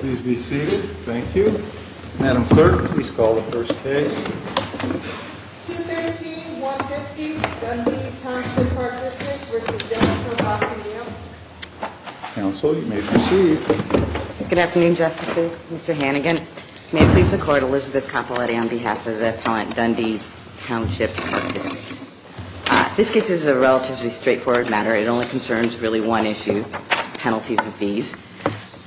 Please be seated. Thank you. Madam Clerk, please call the first case. 213-150 Dundee Township Park District v. Dillard Hill Park Museum Counsel, you may proceed. Good afternoon, Justices. Mr. Hannigan, may it please the Court, Elizabeth Capoletti on behalf of the Appellant Dundee Township Park District. This case is a relatively straightforward matter. It only concerns really one issue, penalties and fees.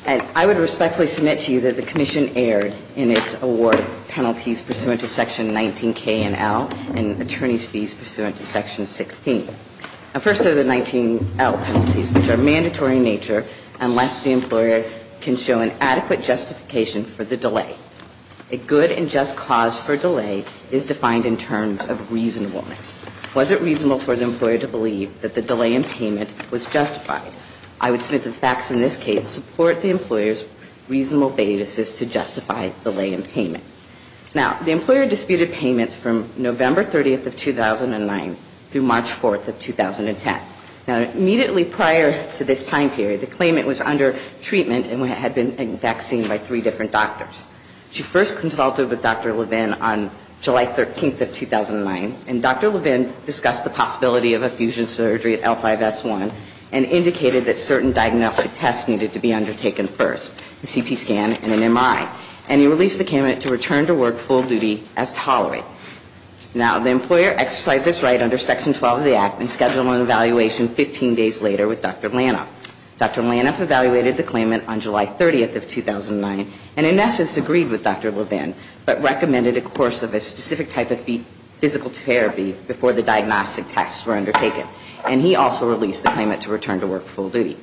And I would respectfully submit to you that the Commission erred in its award of penalties pursuant to Section 19K and L and attorney's fees pursuant to Section 16. First are the 19L penalties, which are mandatory in nature unless the employer can show an adequate justification for the delay. A good and just cause for delay is defined in terms of reasonableness. Was it reasonable for the employer to believe that the delay in payment was justified? I would submit the facts in this case support the employer's reasonable basis to justify delay in payment. Now, the employer disputed payment from November 30th of 2009 through March 4th of 2010. Now, immediately prior to this time period, the claimant was under treatment and had been, in fact, seen by three different doctors. She first consulted with Dr. Levin on July 13th of 2009, and Dr. Levin discussed the possibility of effusion surgery at L5S1 and indicated that certain diagnostic tests needed to be undertaken first, a CT scan and an MI. And he released the candidate to return to work full duty as tolerated. Now, the employer exercised its right under Section 12 of the Act and scheduled an evaluation 15 days later with Dr. Lanuf. Dr. Lanuf evaluated the claimant on July 30th of 2009 and, in essence, agreed with Dr. Levin, but recommended a course of a specific type of physical therapy before the diagnostic tests were undertaken. And he also released the claimant to return to work full duty.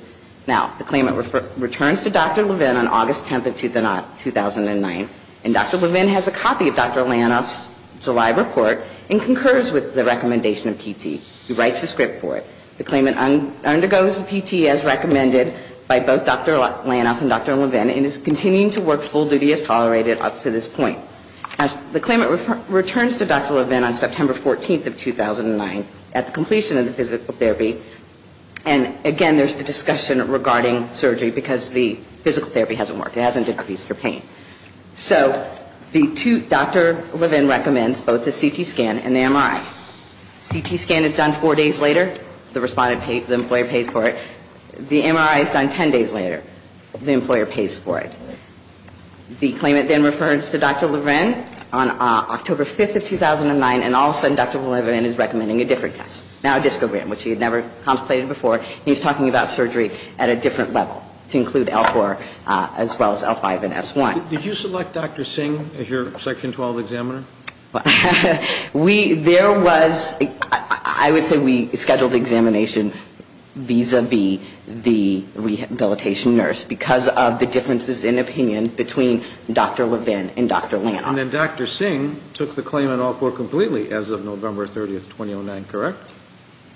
Now, the claimant returns to Dr. Levin on August 10th of 2009, and Dr. Levin has a copy of Dr. Lanuf's July report and concurs with the recommendation of PT. He writes a script for it. The claimant undergoes the PT as recommended by both Dr. Lanuf and Dr. Levin and is continuing to work full duty as tolerated up to this point. The claimant returns to Dr. Levin on September 14th of 2009 at the completion of the physical therapy. And, again, there's the discussion regarding surgery because the physical therapy hasn't worked. It hasn't decreased her pain. So Dr. Levin recommends both the CT scan and the MRI. The CT scan is done four days later. The employee pays for it. The MRI is done 10 days later. The employer pays for it. The claimant then refers to Dr. Levin on October 5th of 2009, and all of a sudden Dr. Levin is recommending a different test, now a discogram, which he had never contemplated before. He's talking about surgery at a different level to include L-4 as well as L-5 and S-1. Did you select Dr. Singh as your Section 12 examiner? There was, I would say we scheduled the examination vis-a-vis the rehabilitation nurse because of the differences in opinion between Dr. Levin and Dr. Lanuf. And then Dr. Singh took the claim on L-4 completely as of November 30th, 2009, correct?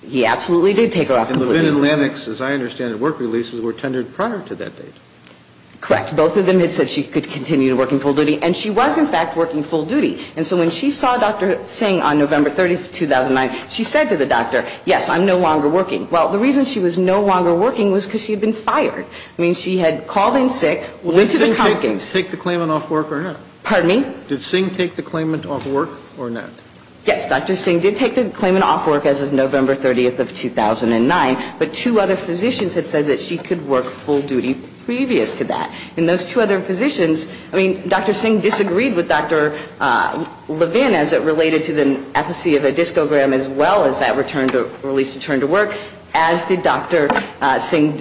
He absolutely did take her off completely. And Levin and Lanuf, as I understand it, work releases were tendered prior to that date. Correct. Both of them had said she could continue to work in full duty. And she was, in fact, working full duty. And so when she saw Dr. Singh on November 30th, 2009, she said to the doctor, yes, I'm no longer working. Well, the reason she was no longer working was because she had been fired. I mean, she had called in sick, went to the conference. Did Singh take the claimant off work or not? Pardon me? Did Singh take the claimant off work or not? Yes, Dr. Singh did take the claimant off work as of November 30th of 2009. But two other physicians had said that she could work full duty previous to that. And those two other physicians, I mean, Dr. Singh disagreed with Dr. Levin as it related to the efficacy of a discogram as well as that release to turn to work, as did Dr. Singh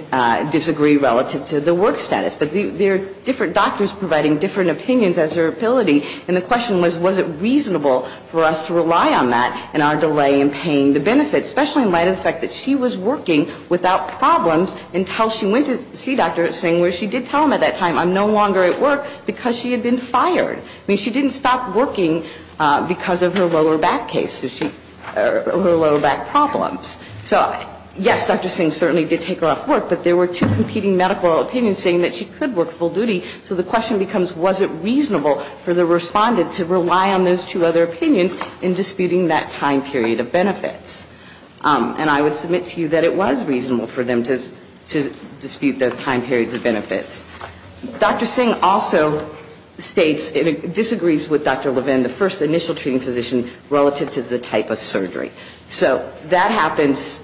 disagree relative to the work status. But they're different doctors providing different opinions as their ability. And the question was, was it reasonable for us to rely on that in our delay in paying the benefits, especially in light of the fact that she was working without problems until she went to see Dr. Singh where she did tell him at that time, I'm no longer at work because she had been fired. I mean, she didn't stop working because of her lower back case or her lower back problems. So, yes, Dr. Singh certainly did take her off work, but there were two competing medical opinions saying that she could work full duty. So the question becomes, was it reasonable for the respondent to rely on those two other opinions in disputing that time period of benefits? And I would submit to you that it was reasonable for them to dispute those time periods of benefits. Dr. Singh also states, disagrees with Dr. Levin, the first initial treating physician relative to the type of surgery. So that happens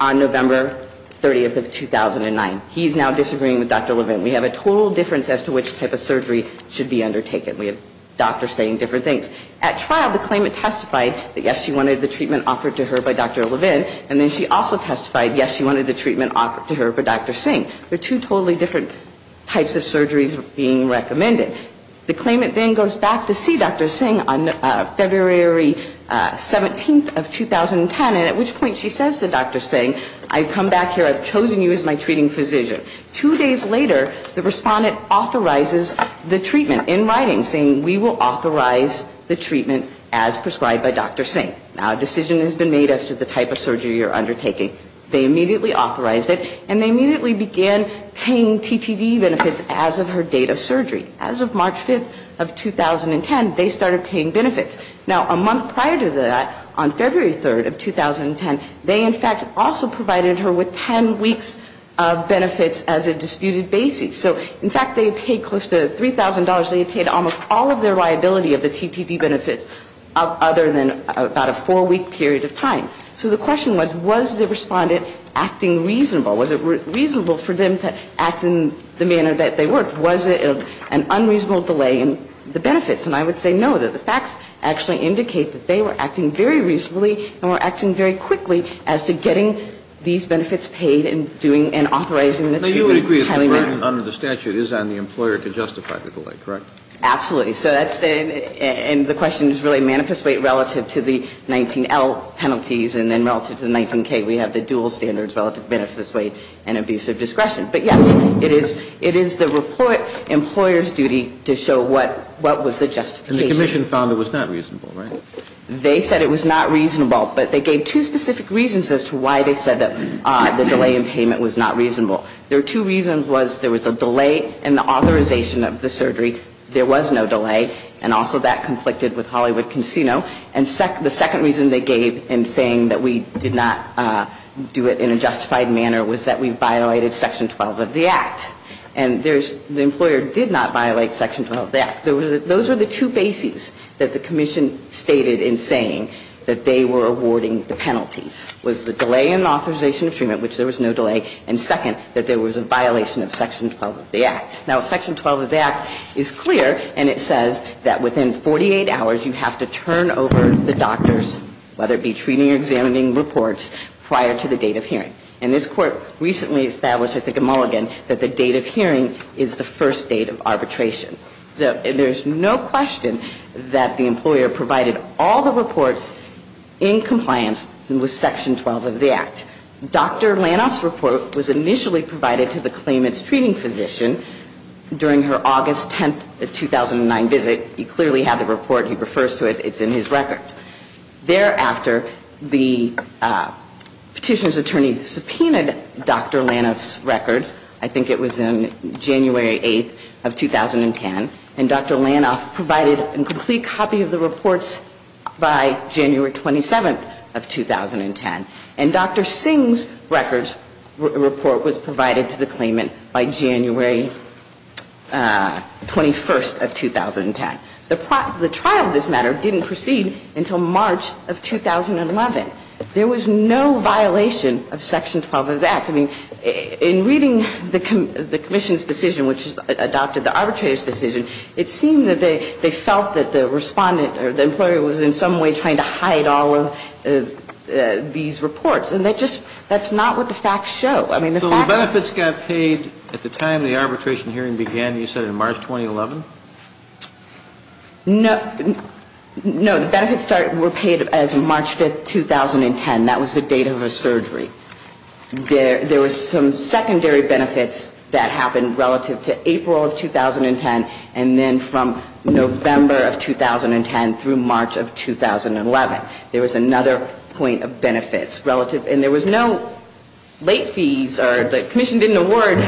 on November 30th of 2009. He's now disagreeing with Dr. Levin. We have a total difference as to which type of surgery should be undertaken. We have doctors saying different things. At trial, the claimant testified that, yes, she wanted the treatment offered to her by Dr. Levin, and then she also testified, yes, she wanted the treatment offered to her by Dr. Singh. They're two totally different types of surgeries being recommended. The claimant then goes back to see Dr. Singh on February 17th of 2010, and at which point she says to Dr. Singh, I've come back here. I've chosen you as my treating physician. Two days later, the respondent authorizes the treatment in writing, saying, we will authorize the treatment as prescribed by Dr. Singh. Now, a decision has been made as to the type of surgery you're undertaking. They immediately authorized it, and they immediately began paying TTD benefits as of her date of surgery. As of March 5th of 2010, they started paying benefits. Now, a month prior to that, on February 3rd of 2010, they, in fact, also provided her with 10 weeks of benefits as a disputed basis. So, in fact, they had paid close to $3,000. They had paid almost all of their liability of the TTD benefits other than about a four-week period of time. So the question was, was the respondent acting reasonable? Was it reasonable for them to act in the manner that they worked? Was it an unreasonable delay in the benefits? And I would say no, that the facts actually indicate that they were acting very reasonably and were acting very quickly as to getting these benefits paid and doing and authorizing the treatment. Kennedy, you would agree that the burden under the statute is on the employer to justify the delay, correct? Absolutely. So that's the question is really manifest weight relative to the 19L penalties and then relative to the 19K, we have the dual standards relative to manifest weight and abusive discretion. But, yes, it is the report employer's duty to show what was the justification. And the commission found it was not reasonable, right? They said it was not reasonable, but they gave two specific reasons as to why they said that the delay in payment was not reasonable. There were two reasons. One was there was a delay in the authorization of the surgery. There was no delay. And also that conflicted with Hollywood Casino. And the second reason they gave in saying that we did not do it in a justified manner was that we violated Section 12 of the Act. And the employer did not violate Section 12 of the Act. Those were the two bases that the commission stated in saying that they were awarding the penalties, was the delay in authorization of treatment, which there was no delay, and second, that there was a violation of Section 12 of the Act. Now, Section 12 of the Act is clear and it says that within 48 hours you have to turn over the doctor's, whether it be treating or examining reports, prior to the date of hearing. And this Court recently established, I think at Mulligan, that the date of hearing is the first date of arbitration. So there's no question that the employer provided all the reports in compliance with Section 12 of the Act. Dr. Lanoff's report was initially provided to the claimant's treating physician during her August 10, 2009 visit. He clearly had the report. He refers to it. It's in his record. Thereafter, the petitioner's attorney subpoenaed Dr. Lanoff's records. I think it was on January 8th of 2010. And Dr. Lanoff provided a complete copy of the reports by January 27th of 2010. And Dr. Singh's records report was provided to the claimant by January 21st of 2010. The trial of this matter didn't proceed until March of 2011. In fact, I mean, in reading the commission's decision, which adopted the arbitrator's decision, it seemed that they felt that the respondent or the employer was in some way trying to hide all of these reports. And that just – that's not what the facts show. I mean, the facts – So the benefits got paid at the time the arbitration hearing began, you said, in March 2011? No. The benefits were paid as March 5th, 2010. That was the date of her surgery. There were some secondary benefits that happened relative to April of 2010, and then from November of 2010 through March of 2011. There was another point of benefits relative – and there was no late fees, or the commission didn't award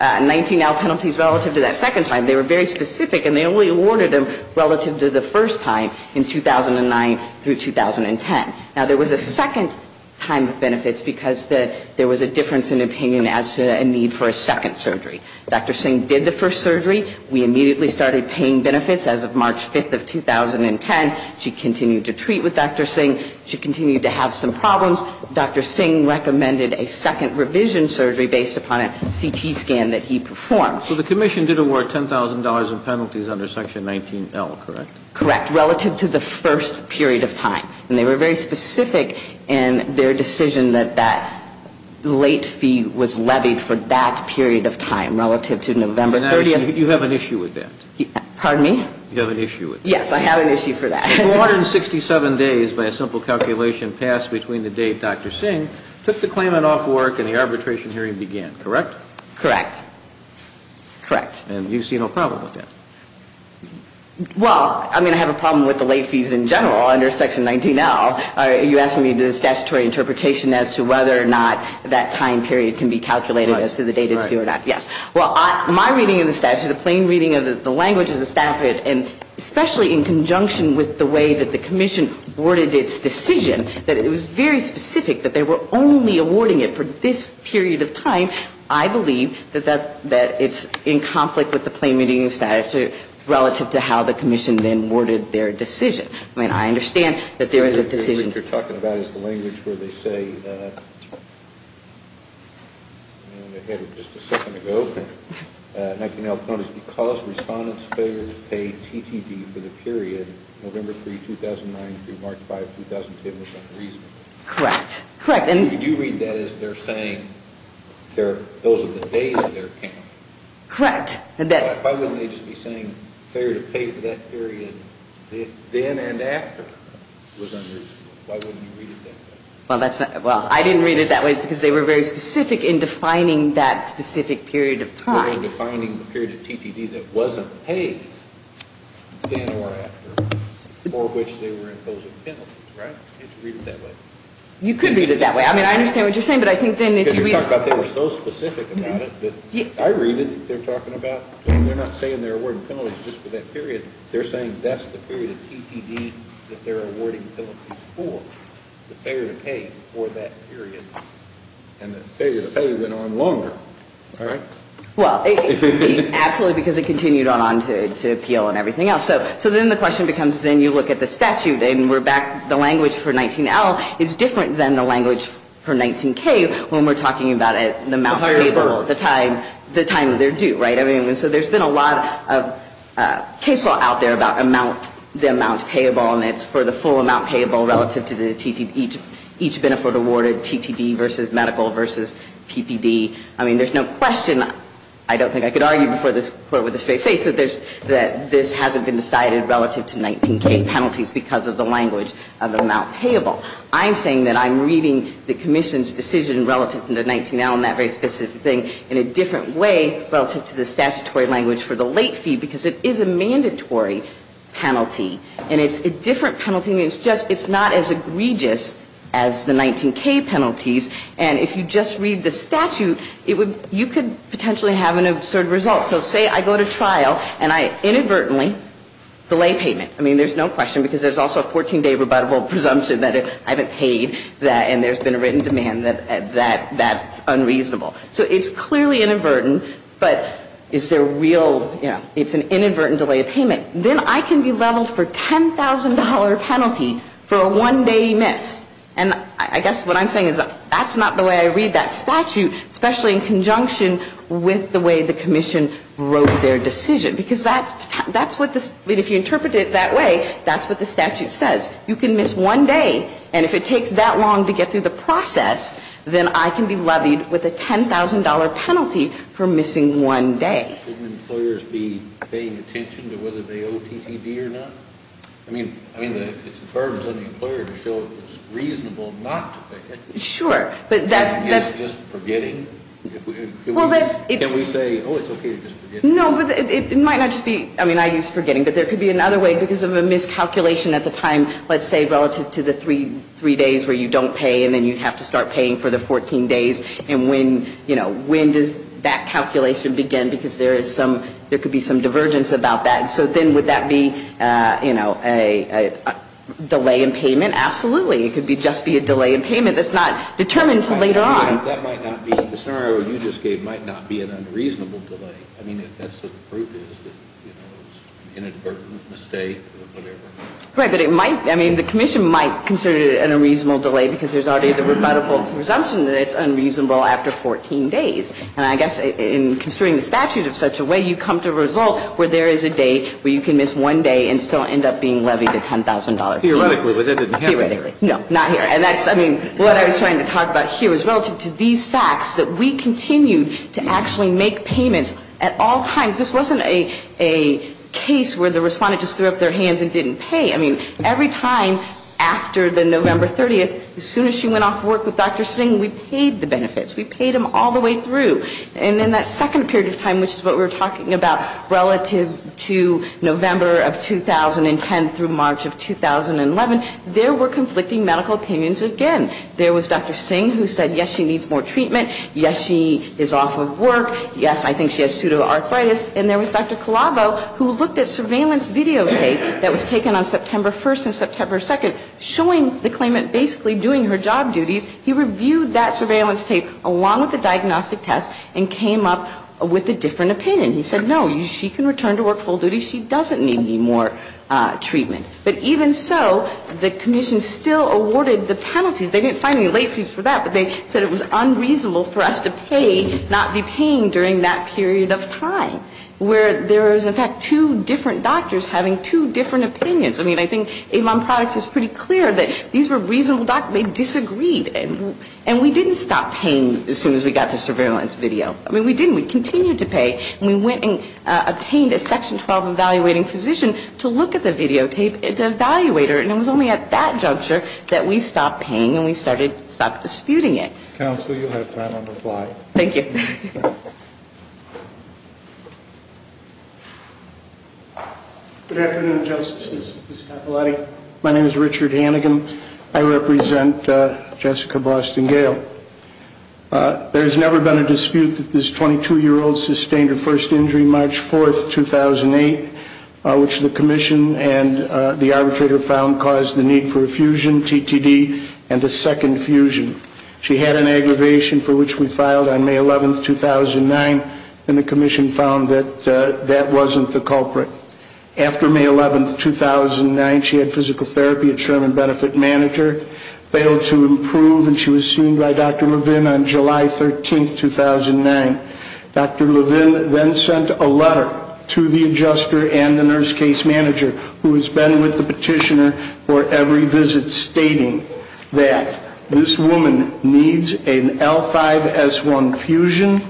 19-L penalties relative to that second time. They were very specific, and they only awarded them relative to the first time in 2009 through 2010. Now, there was a second time of benefits because there was a difference in opinion as to a need for a second surgery. Dr. Singh did the first surgery. We immediately started paying benefits as of March 5th of 2010. She continued to treat with Dr. Singh. She continued to have some problems. Dr. Singh recommended a second revision surgery based upon a CT scan that he performed. So the commission did award $10,000 in penalties under Section 19-L, correct? Correct. Relative to the first period of time. And they were very specific in their decision that that late fee was levied for that period of time relative to November 30th. You have an issue with that. Pardon me? You have an issue with that. Yes, I have an issue for that. 267 days by a simple calculation passed between the date Dr. Singh took the claimant off work and the arbitration hearing began, correct? Correct. And you see no problem with that. Well, I mean, I have a problem with the late fees in general under Section 19-L. You're asking me the statutory interpretation as to whether or not that time period can be calculated as to the date it's due or not. Yes. Well, my reading of the statute, the plain reading of the language of the statute, and especially in conjunction with the way that the commission worded its decision, that it was very specific that they were only awarding it for this period of time, I believe that it's in conflict with the plain reading of the statute relative to how the commission then worded their decision. I mean, I understand that there is a decision. What you're talking about is the language where they say, and I had it just a second ago, 19-L. Notice, because respondents failed to pay TTD for the period November 3, 2009, through March 5, 2010, was unreasonable. Correct. Correct. You do read that as they're saying those are the days of their account. Correct. Why wouldn't they just be saying, fair to pay for that period then and after was unreasonable? Why wouldn't you read it that way? Well, I didn't read it that way because they were very specific in defining that specific period of time. They were defining the period of TTD that wasn't paid then or after, for which they were imposing penalties, right? You can't read it that way. You could read it that way. I mean, I understand what you're saying, but I think then if you read it. Because you're talking about they were so specific about it that I read it. They're talking about they're not saying they're awarding penalties just for that period. They're saying that's the period of TTD that they're awarding penalties for, the failure to pay for that period. And the failure to pay went on longer, right? Well, absolutely, because it continued on to appeal and everything else. So then the question becomes then you look at the statute and we're back. The language for 19L is different than the language for 19K when we're talking about an amount payable at the time of their due, right? I mean, so there's been a lot of case law out there about the amount payable, and it's for the full amount payable relative to each benefit awarded, TTD versus medical versus PPD. I mean, there's no question. I don't think I could argue before this Court with a straight face that this hasn't been decided relative to 19K penalties because of the language of the amount payable. I'm saying that I'm reading the commission's decision relative to 19L and that very specific thing in a different way relative to the statutory language for the late fee because it is a mandatory penalty. And it's a different penalty. It's just it's not as egregious as the 19K penalties. And if you just read the statute, you could potentially have an absurd result. So say I go to trial and I inadvertently delay payment. I mean, there's no question because there's also a 14-day rebuttable presumption that I haven't paid and there's been a written demand that that's unreasonable. So it's clearly inadvertent, but is there real, you know, it's an inadvertent delay of payment. Then I can be leveled for a $10,000 penalty for a one-day miss. And I guess what I'm saying is that's not the way I read that statute, especially in conjunction with the way the commission wrote their decision. Because that's what this, if you interpret it that way, that's what the statute says. You can miss one day. And if it takes that long to get through the process, then I can be levied with a $10,000 penalty for missing one day. I mean, shouldn't employers be paying attention to whether they owe TTD or not? I mean, it's a burden on the employer to show it was reasonable not to pay. Sure. But that's just forgetting. Can we say, oh, it's okay to just forget? No, but it might not just be, I mean, I use forgetting. But there could be another way because of a miscalculation at the time, let's say, relative to the three days where you don't pay and then you have to start paying for the 14 days. And when, you know, when does that calculation begin? Because there is some, there could be some divergence about that. So then would that be, you know, a delay in payment? Absolutely. It could just be a delay in payment that's not determined until later on. That might not be, the scenario you just gave might not be an unreasonable delay. I mean, if that's the proof is that, you know, it's an inadvertent mistake or whatever. Right. But it might, I mean, the commission might consider it a reasonable delay because there's already the rebuttable presumption that it's unreasonable. After 14 days. And I guess in construing the statute of such a way, you come to a result where there is a day where you can miss one day and still end up being levied a $10,000 fee. Theoretically, but that didn't happen. Theoretically. No, not here. And that's, I mean, what I was trying to talk about here is relative to these facts that we continue to actually make payments at all times. This wasn't a case where the Respondent just threw up their hands and didn't pay. I mean, every time after the November 30th, as soon as she went off to work with Dr. Singh, we paid the benefits. We paid them all the way through. And then that second period of time, which is what we were talking about relative to November of 2010 through March of 2011, there were conflicting medical opinions again. There was Dr. Singh who said, yes, she needs more treatment. Yes, she is off of work. Yes, I think she has pseudoarthritis. And there was Dr. Colavo who looked at surveillance videotape that was taken on September 1st and September 2nd showing the claimant basically doing her job duties. He reviewed that surveillance tape along with the diagnostic test and came up with a different opinion. He said, no, she can return to work full duty. She doesn't need any more treatment. But even so, the Commission still awarded the penalties. They didn't find any late fees for that, but they said it was unreasonable for us to pay, not be paying during that period of time where there was, in fact, two different doctors having two different opinions. I mean, I think Avon Products is pretty clear that these were reasonable doctors. They disagreed. And we didn't stop paying as soon as we got the surveillance video. I mean, we didn't. We continued to pay. And we went and obtained a Section 12 evaluating physician to look at the videotape, to evaluate her. And it was only at that juncture that we stopped paying and we stopped disputing it. Counsel, you have time on the fly. Thank you. Good afternoon, Justices. My name is Richard Hannigan. I represent Jessica Boston Gale. There has never been a dispute that this 22-year-old sustained her first injury March 4th, 2008, which the Commission and the arbitrator found caused the need for a fusion, TTD, and a second fusion. She had an aggravation for which we filed on May 11th, 2009, and the Commission found that that wasn't the culprit. After May 11th, 2009, she had physical therapy at Sherman Benefit Manager, failed to improve, and she was seen by Dr. Levin on July 13th, 2009. Dr. Levin then sent a letter to the adjuster and the nurse case manager, who has been with the petitioner for every visit, stating that this woman needs an L5-S1 fusion.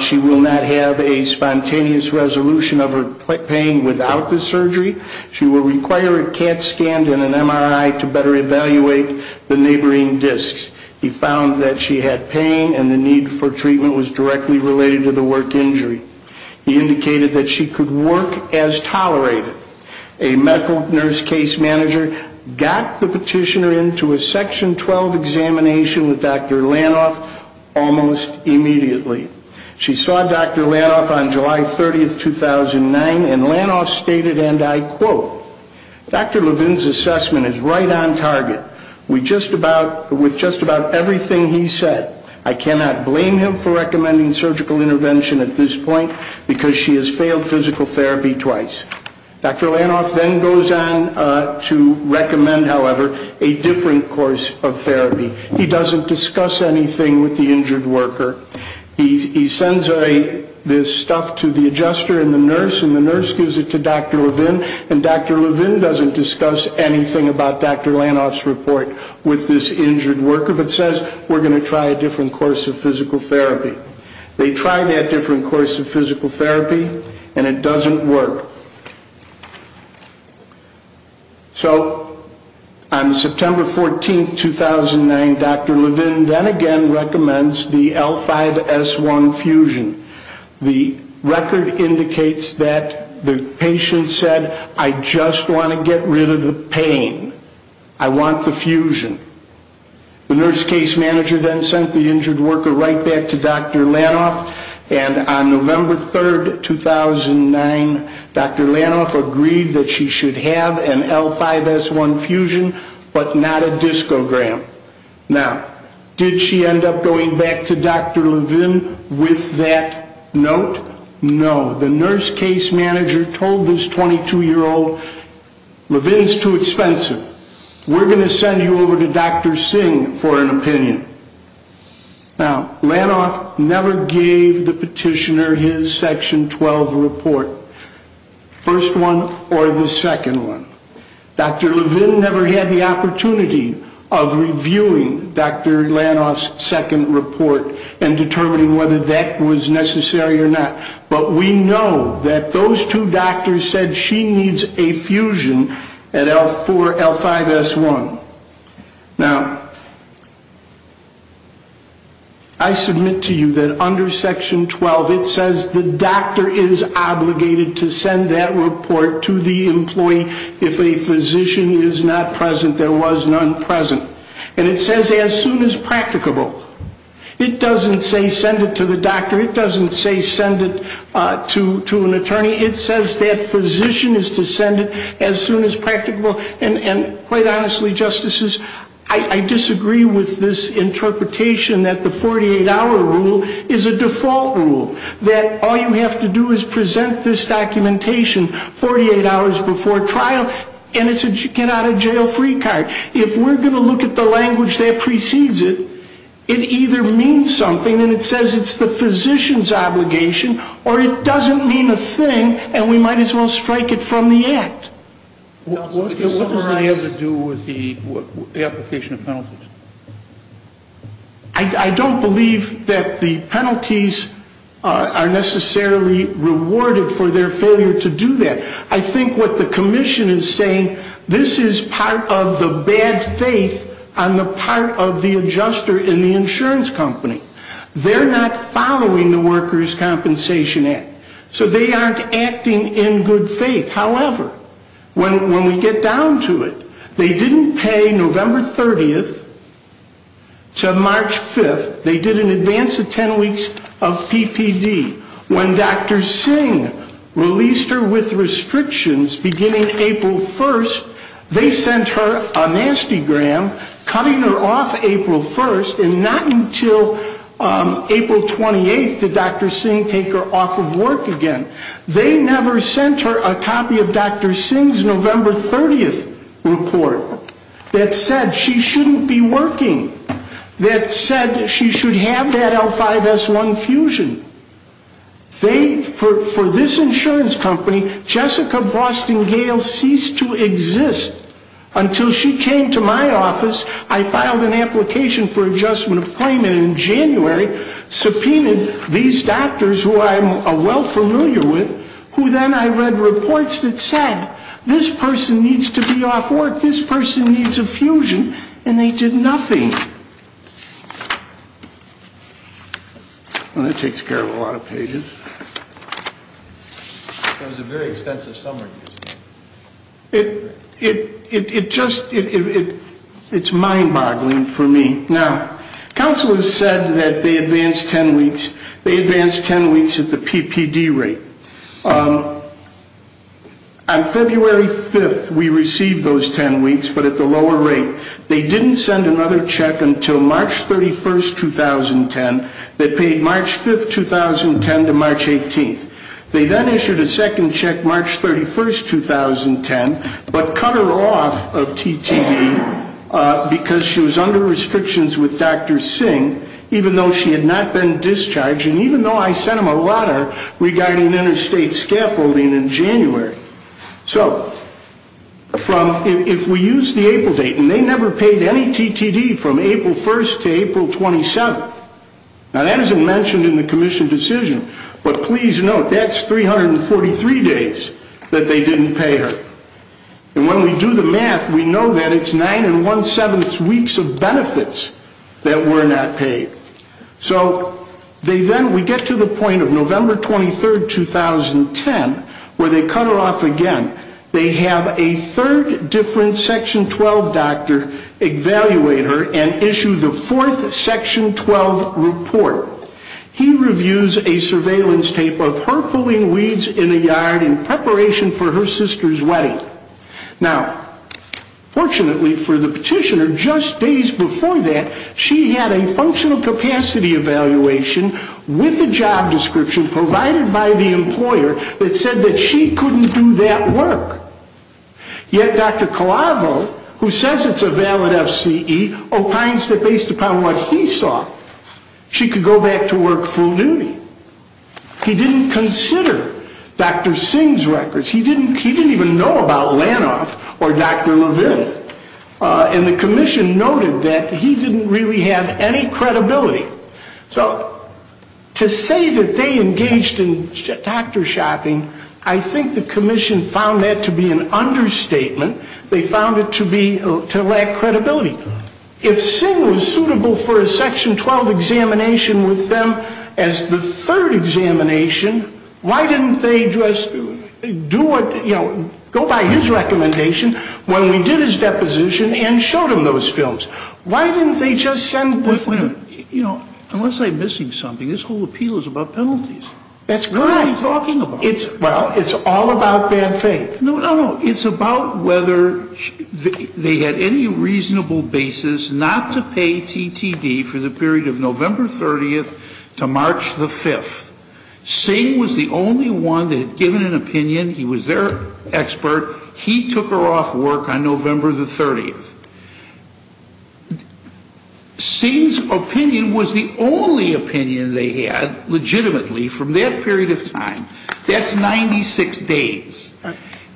She will not have a spontaneous resolution of her pain without the surgery. She will require a CAT scan and an MRI to better evaluate the neighboring discs. He found that she had pain and the need for treatment was directly related to the work injury. He indicated that she could work as tolerated. A medical nurse case manager got the petitioner into a Section 12 examination with Dr. Lanoff almost immediately. She saw Dr. Lanoff on July 30th, 2009, and Lanoff stated, and I quote, Dr. Levin's assessment is right on target with just about everything he said. I cannot blame him for recommending surgical intervention at this point because she has failed physical therapy twice. Dr. Lanoff then goes on to recommend, however, a different course of therapy. He doesn't discuss anything with the injured worker. He sends this stuff to the adjuster and the nurse and the nurse gives it to Dr. Levin and Dr. Levin doesn't discuss anything about Dr. Lanoff's report with this injured worker but says we're going to try a different course of physical therapy. They try that different course of physical therapy and it doesn't work. So on September 14th, 2009, Dr. Levin then again recommends the L5-S1 fusion. The record indicates that the patient said, I just want to get rid of the pain. I want the fusion. The nurse case manager then sent the injured worker right back to Dr. Lanoff and on November 3rd, 2009, Dr. Lanoff agreed that she should have an L5-S1 fusion but not a discogram. Now, did she end up going back to Dr. Levin with that note? No. The nurse case manager told this 22-year-old, Levin's too expensive. We're going to send you over to Dr. Singh for an opinion. Now, Lanoff never gave the petitioner his Section 12 report, first one or the second one. Dr. Levin never had the opportunity of reviewing Dr. Lanoff's second report and determining whether that was necessary or not. But we know that those two doctors said she needs a fusion at L4, L5-S1. Now, I submit to you that under Section 12 it says the doctor is obligated to send that report to the employee if a physician is not present, there was none present. And it says as soon as practicable. It doesn't say send it to the doctor. It doesn't say send it to an attorney. It says that physician is to send it as soon as practicable. And quite honestly, Justices, I disagree with this interpretation that the 48-hour rule is a default rule, that all you have to do is present this documentation 48 hours before trial and it's a get-out-of-jail-free card. If we're going to look at the language that precedes it, it either means something and it says it's the physician's obligation or it doesn't mean a thing and we might as well strike it from the act. What does that have to do with the application of penalties? I don't believe that the penalties are necessarily rewarded for their failure to do that. I think what the commission is saying, this is part of the bad faith on the part of the adjuster in the insurance company. They're not following the Workers' Compensation Act. So they aren't acting in good faith. However, when we get down to it, they didn't pay November 30th to March 5th. They did an advance of 10 weeks of PPD. When Dr. Singh released her with restrictions beginning April 1st, they sent her a nasty gram cutting her off April 1st and not until April 28th did Dr. Singh take her off of work again. They never sent her a copy of Dr. Singh's November 30th report that said she shouldn't be working, that said she should have that L5-S1 fusion. For this insurance company, Jessica Boston Gale ceased to exist. Until she came to my office, I filed an application for adjustment of claim and in January subpoenaed these doctors who I'm well familiar with, who then I read reports that said this person needs to be off work, this person needs a fusion, and they did nothing. Well, that takes care of a lot of pages. It was a very extensive summary. It just, it's mind-boggling for me. Now, counsel has said that they advanced 10 weeks. They advanced 10 weeks at the PPD rate. On February 5th, we received those 10 weeks, but at the lower rate. They didn't send another check until March 31st, 2010. They paid March 5th, 2010 to March 18th. They then issued a second check March 31st, 2010, but cut her off of TTD because she was under restrictions with Dr. Singh, even though she had not been discharged, and even though I sent them a letter regarding interstate scaffolding in January. So if we use the April date, and they never paid any TTD from April 1st to April 27th. Now, that isn't mentioned in the commission decision, but please note that's 343 days that they didn't pay her. And when we do the math, we know that it's nine and one-seventh weeks of benefits that were not paid. So they then, we get to the point of November 23rd, 2010, where they cut her off again. They have a third different Section 12 doctor evaluate her and issue the fourth Section 12 report. He reviews a surveillance tape of her pulling weeds in a yard in preparation for her sister's wedding. Now, fortunately for the petitioner, just days before that, she had a functional capacity evaluation with a job description provided by the employer that said that she couldn't do that work. Yet Dr. Colavo, who says it's a valid FCE, opines that based upon what he saw, she could go back to work full duty. He didn't consider Dr. Singh's records. He didn't even know about Lanoff or Dr. Levin. And the commission noted that he didn't really have any credibility. So to say that they engaged in doctor shopping, I think the commission found that to be an understatement. They found it to be, to lack credibility. If Singh was suitable for a Section 12 examination with them as the third examination, why didn't they just do what, you know, go by his recommendation when we did his deposition and showed him those films? Why didn't they just send the film? You know, unless I'm missing something, this whole appeal is about penalties. That's correct. What are you talking about? Well, it's all about bad faith. No, no, no. It's about whether they had any reasonable basis not to pay TTD for the period of November 30th to March the 5th. Singh was the only one that had given an opinion. He was their expert. He took her off work on November the 30th. Singh's opinion was the only opinion they had legitimately from that period of time. That's 96 days.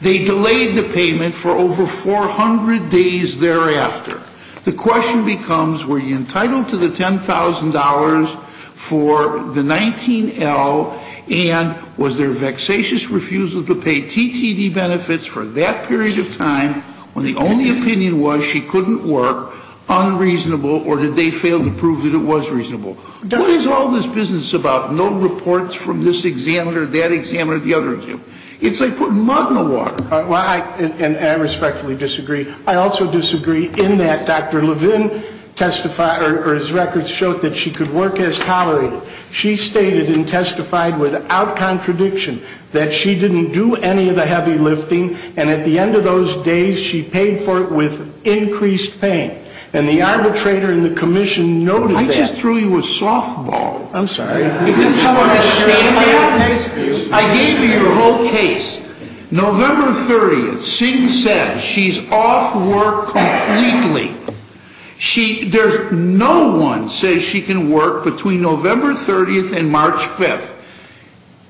They delayed the payment for over 400 days thereafter. The question becomes were you entitled to the $10,000 for the 19L and was there a vexatious refusal to pay TTD benefits for that period of time when the only opinion was she couldn't work, unreasonable, or did they fail to prove that it was reasonable? What is all this business about no reports from this examiner, that examiner, the other examiner? It's like putting mud in the water. And I respectfully disagree. I also disagree in that Dr. Levin testified or his records showed that she could work as tolerated. She stated and testified without contradiction that she didn't do any of the heavy lifting, and at the end of those days she paid for it with increased pain. And the arbitrator and the commission noted that. I just threw you a softball. I'm sorry. I gave you your whole case. November 30th, Singh says she's off work completely. No one says she can work between November 30th and March 5th.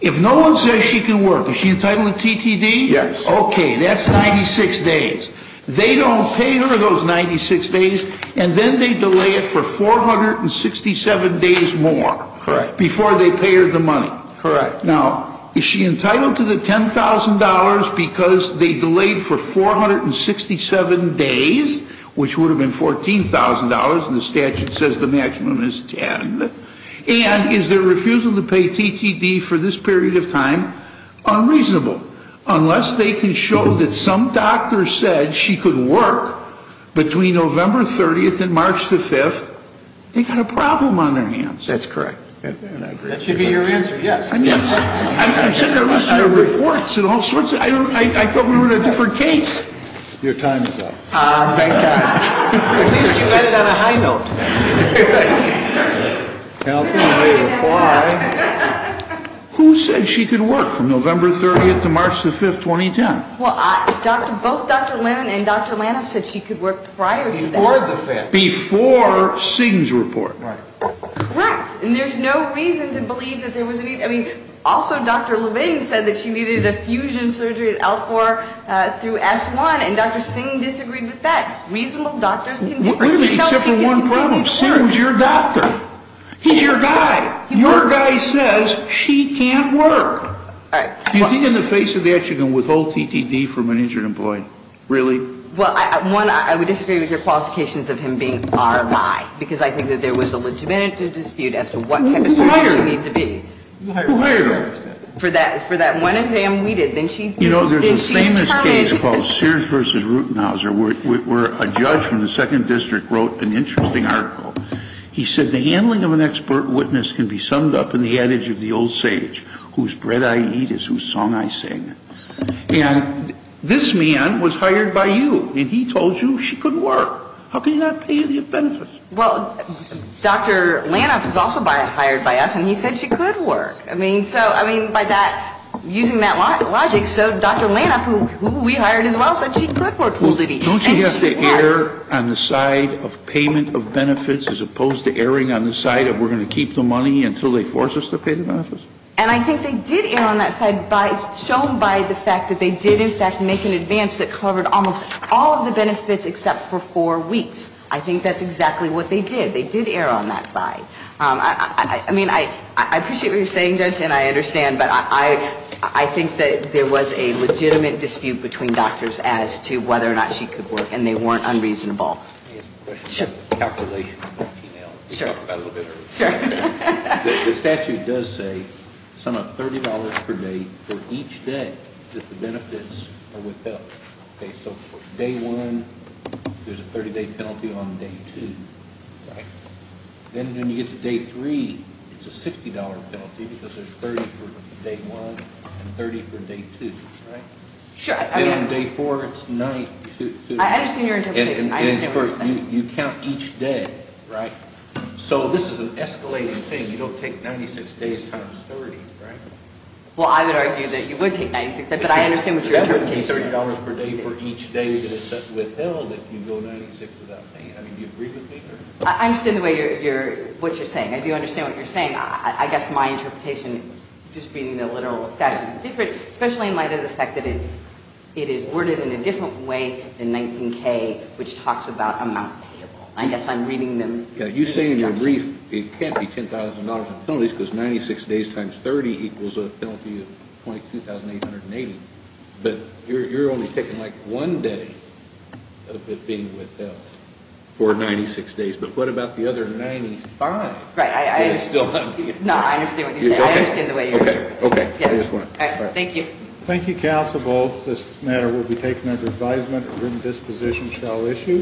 If no one says she can work, is she entitled to TTD? Yes. Okay, that's 96 days. They don't pay her those 96 days, and then they delay it for 467 days more. Correct. Before they pay her the money. Correct. Now, is she entitled to the $10,000 because they delayed for 467 days, which would have been $14,000, and the statute says the maximum is 10, and is their refusal to pay TTD for this period of time unreasonable, unless they can show that some doctor said she could work between November 30th and March 5th, they've got a problem on their hands. That's correct. That should be your answer, yes. I'm sick of listening to reports of all sorts. I thought we were in a different case. Your time is up. Thank God. At least you read it on a high note. Counsel may reply. Who said she could work from November 30th to March 5th, 2010? Well, both Dr. Levin and Dr. Lanoff said she could work prior to that. Before the 5th. Before Singh's report. Right. Correct. And there's no reason to believe that there was a need. I mean, also Dr. Levin said that she needed a fusion surgery at L4 through S1, and Dr. Singh disagreed with that. Really, except for one problem. Singh was your doctor. He's your guy. Your guy says she can't work. All right. Do you think in the face of that you can withhold TTD from an injured employee? Really? Well, one, I would disagree with your qualifications of him being R.I., because I think that there was a legitimate dispute as to what type of surgery she needed to be. Who hired her? Who hired her? For that one exam we did. You know, there's a famous case called Sears v. Rutenhauser where a judge from the 2nd District wrote an interesting article. He said the handling of an expert witness can be summed up in the adage of the old sage, whose bread I eat is whose song I sing. And this man was hired by you, and he told you she couldn't work. How can he not pay you the benefits? Well, Dr. Lanoff was also hired by us, and he said she could work. I mean, so, I mean, by that, using that logic, so Dr. Lanoff, who we hired as well, said she could work full TTD. Don't you have to err on the side of payment of benefits as opposed to erring on the side of we're going to keep the money until they force us to pay the benefits? And I think they did err on that side shown by the fact that they did, in fact, make an advance that covered almost all of the benefits except for four weeks. I think that's exactly what they did. They did err on that side. I mean, I appreciate what you're saying, Judge, and I understand, but I think that there was a legitimate dispute between doctors as to whether or not she could work, and they weren't unreasonable. Let me ask a question. Sure. Calculation. Sure. The statute does say sum up $30 per day for each day that the benefits are withheld. Okay, so for day one, there's a 30-day penalty on day two. Right. Then when you get to day three, it's a $60 penalty because there's 30 for day one and 30 for day two, right? Sure. Then on day four, it's 90. I understand your interpretation. I understand what you're saying. You count each day, right? So this is an escalating thing. You don't take 96 days times 30, right? Well, I would argue that you would take 96 days, but I understand what your interpretation is. Remember, it would be $30 per day for each day that is withheld if you go 96 without paying. I mean, do you agree with me here? I understand what you're saying. I do understand what you're saying. I guess my interpretation, just reading the literal statute, is different, especially in light of the fact that it is worded in a different way than 19K, which talks about amount payable. I guess I'm reading them in a different way. Yeah, you say in your brief it can't be $10,000 in penalties because 96 days times 30 equals a penalty of $22,880. But you're only taking like one day of it being withheld for 96 days. But what about the other 95? Right, I understand what you're saying. No, I understand what you're saying. I understand the way you're interpreting it. Okay. Thank you. Thank you, counsel. Both this matter will be taken under advisement. A written disposition shall issue.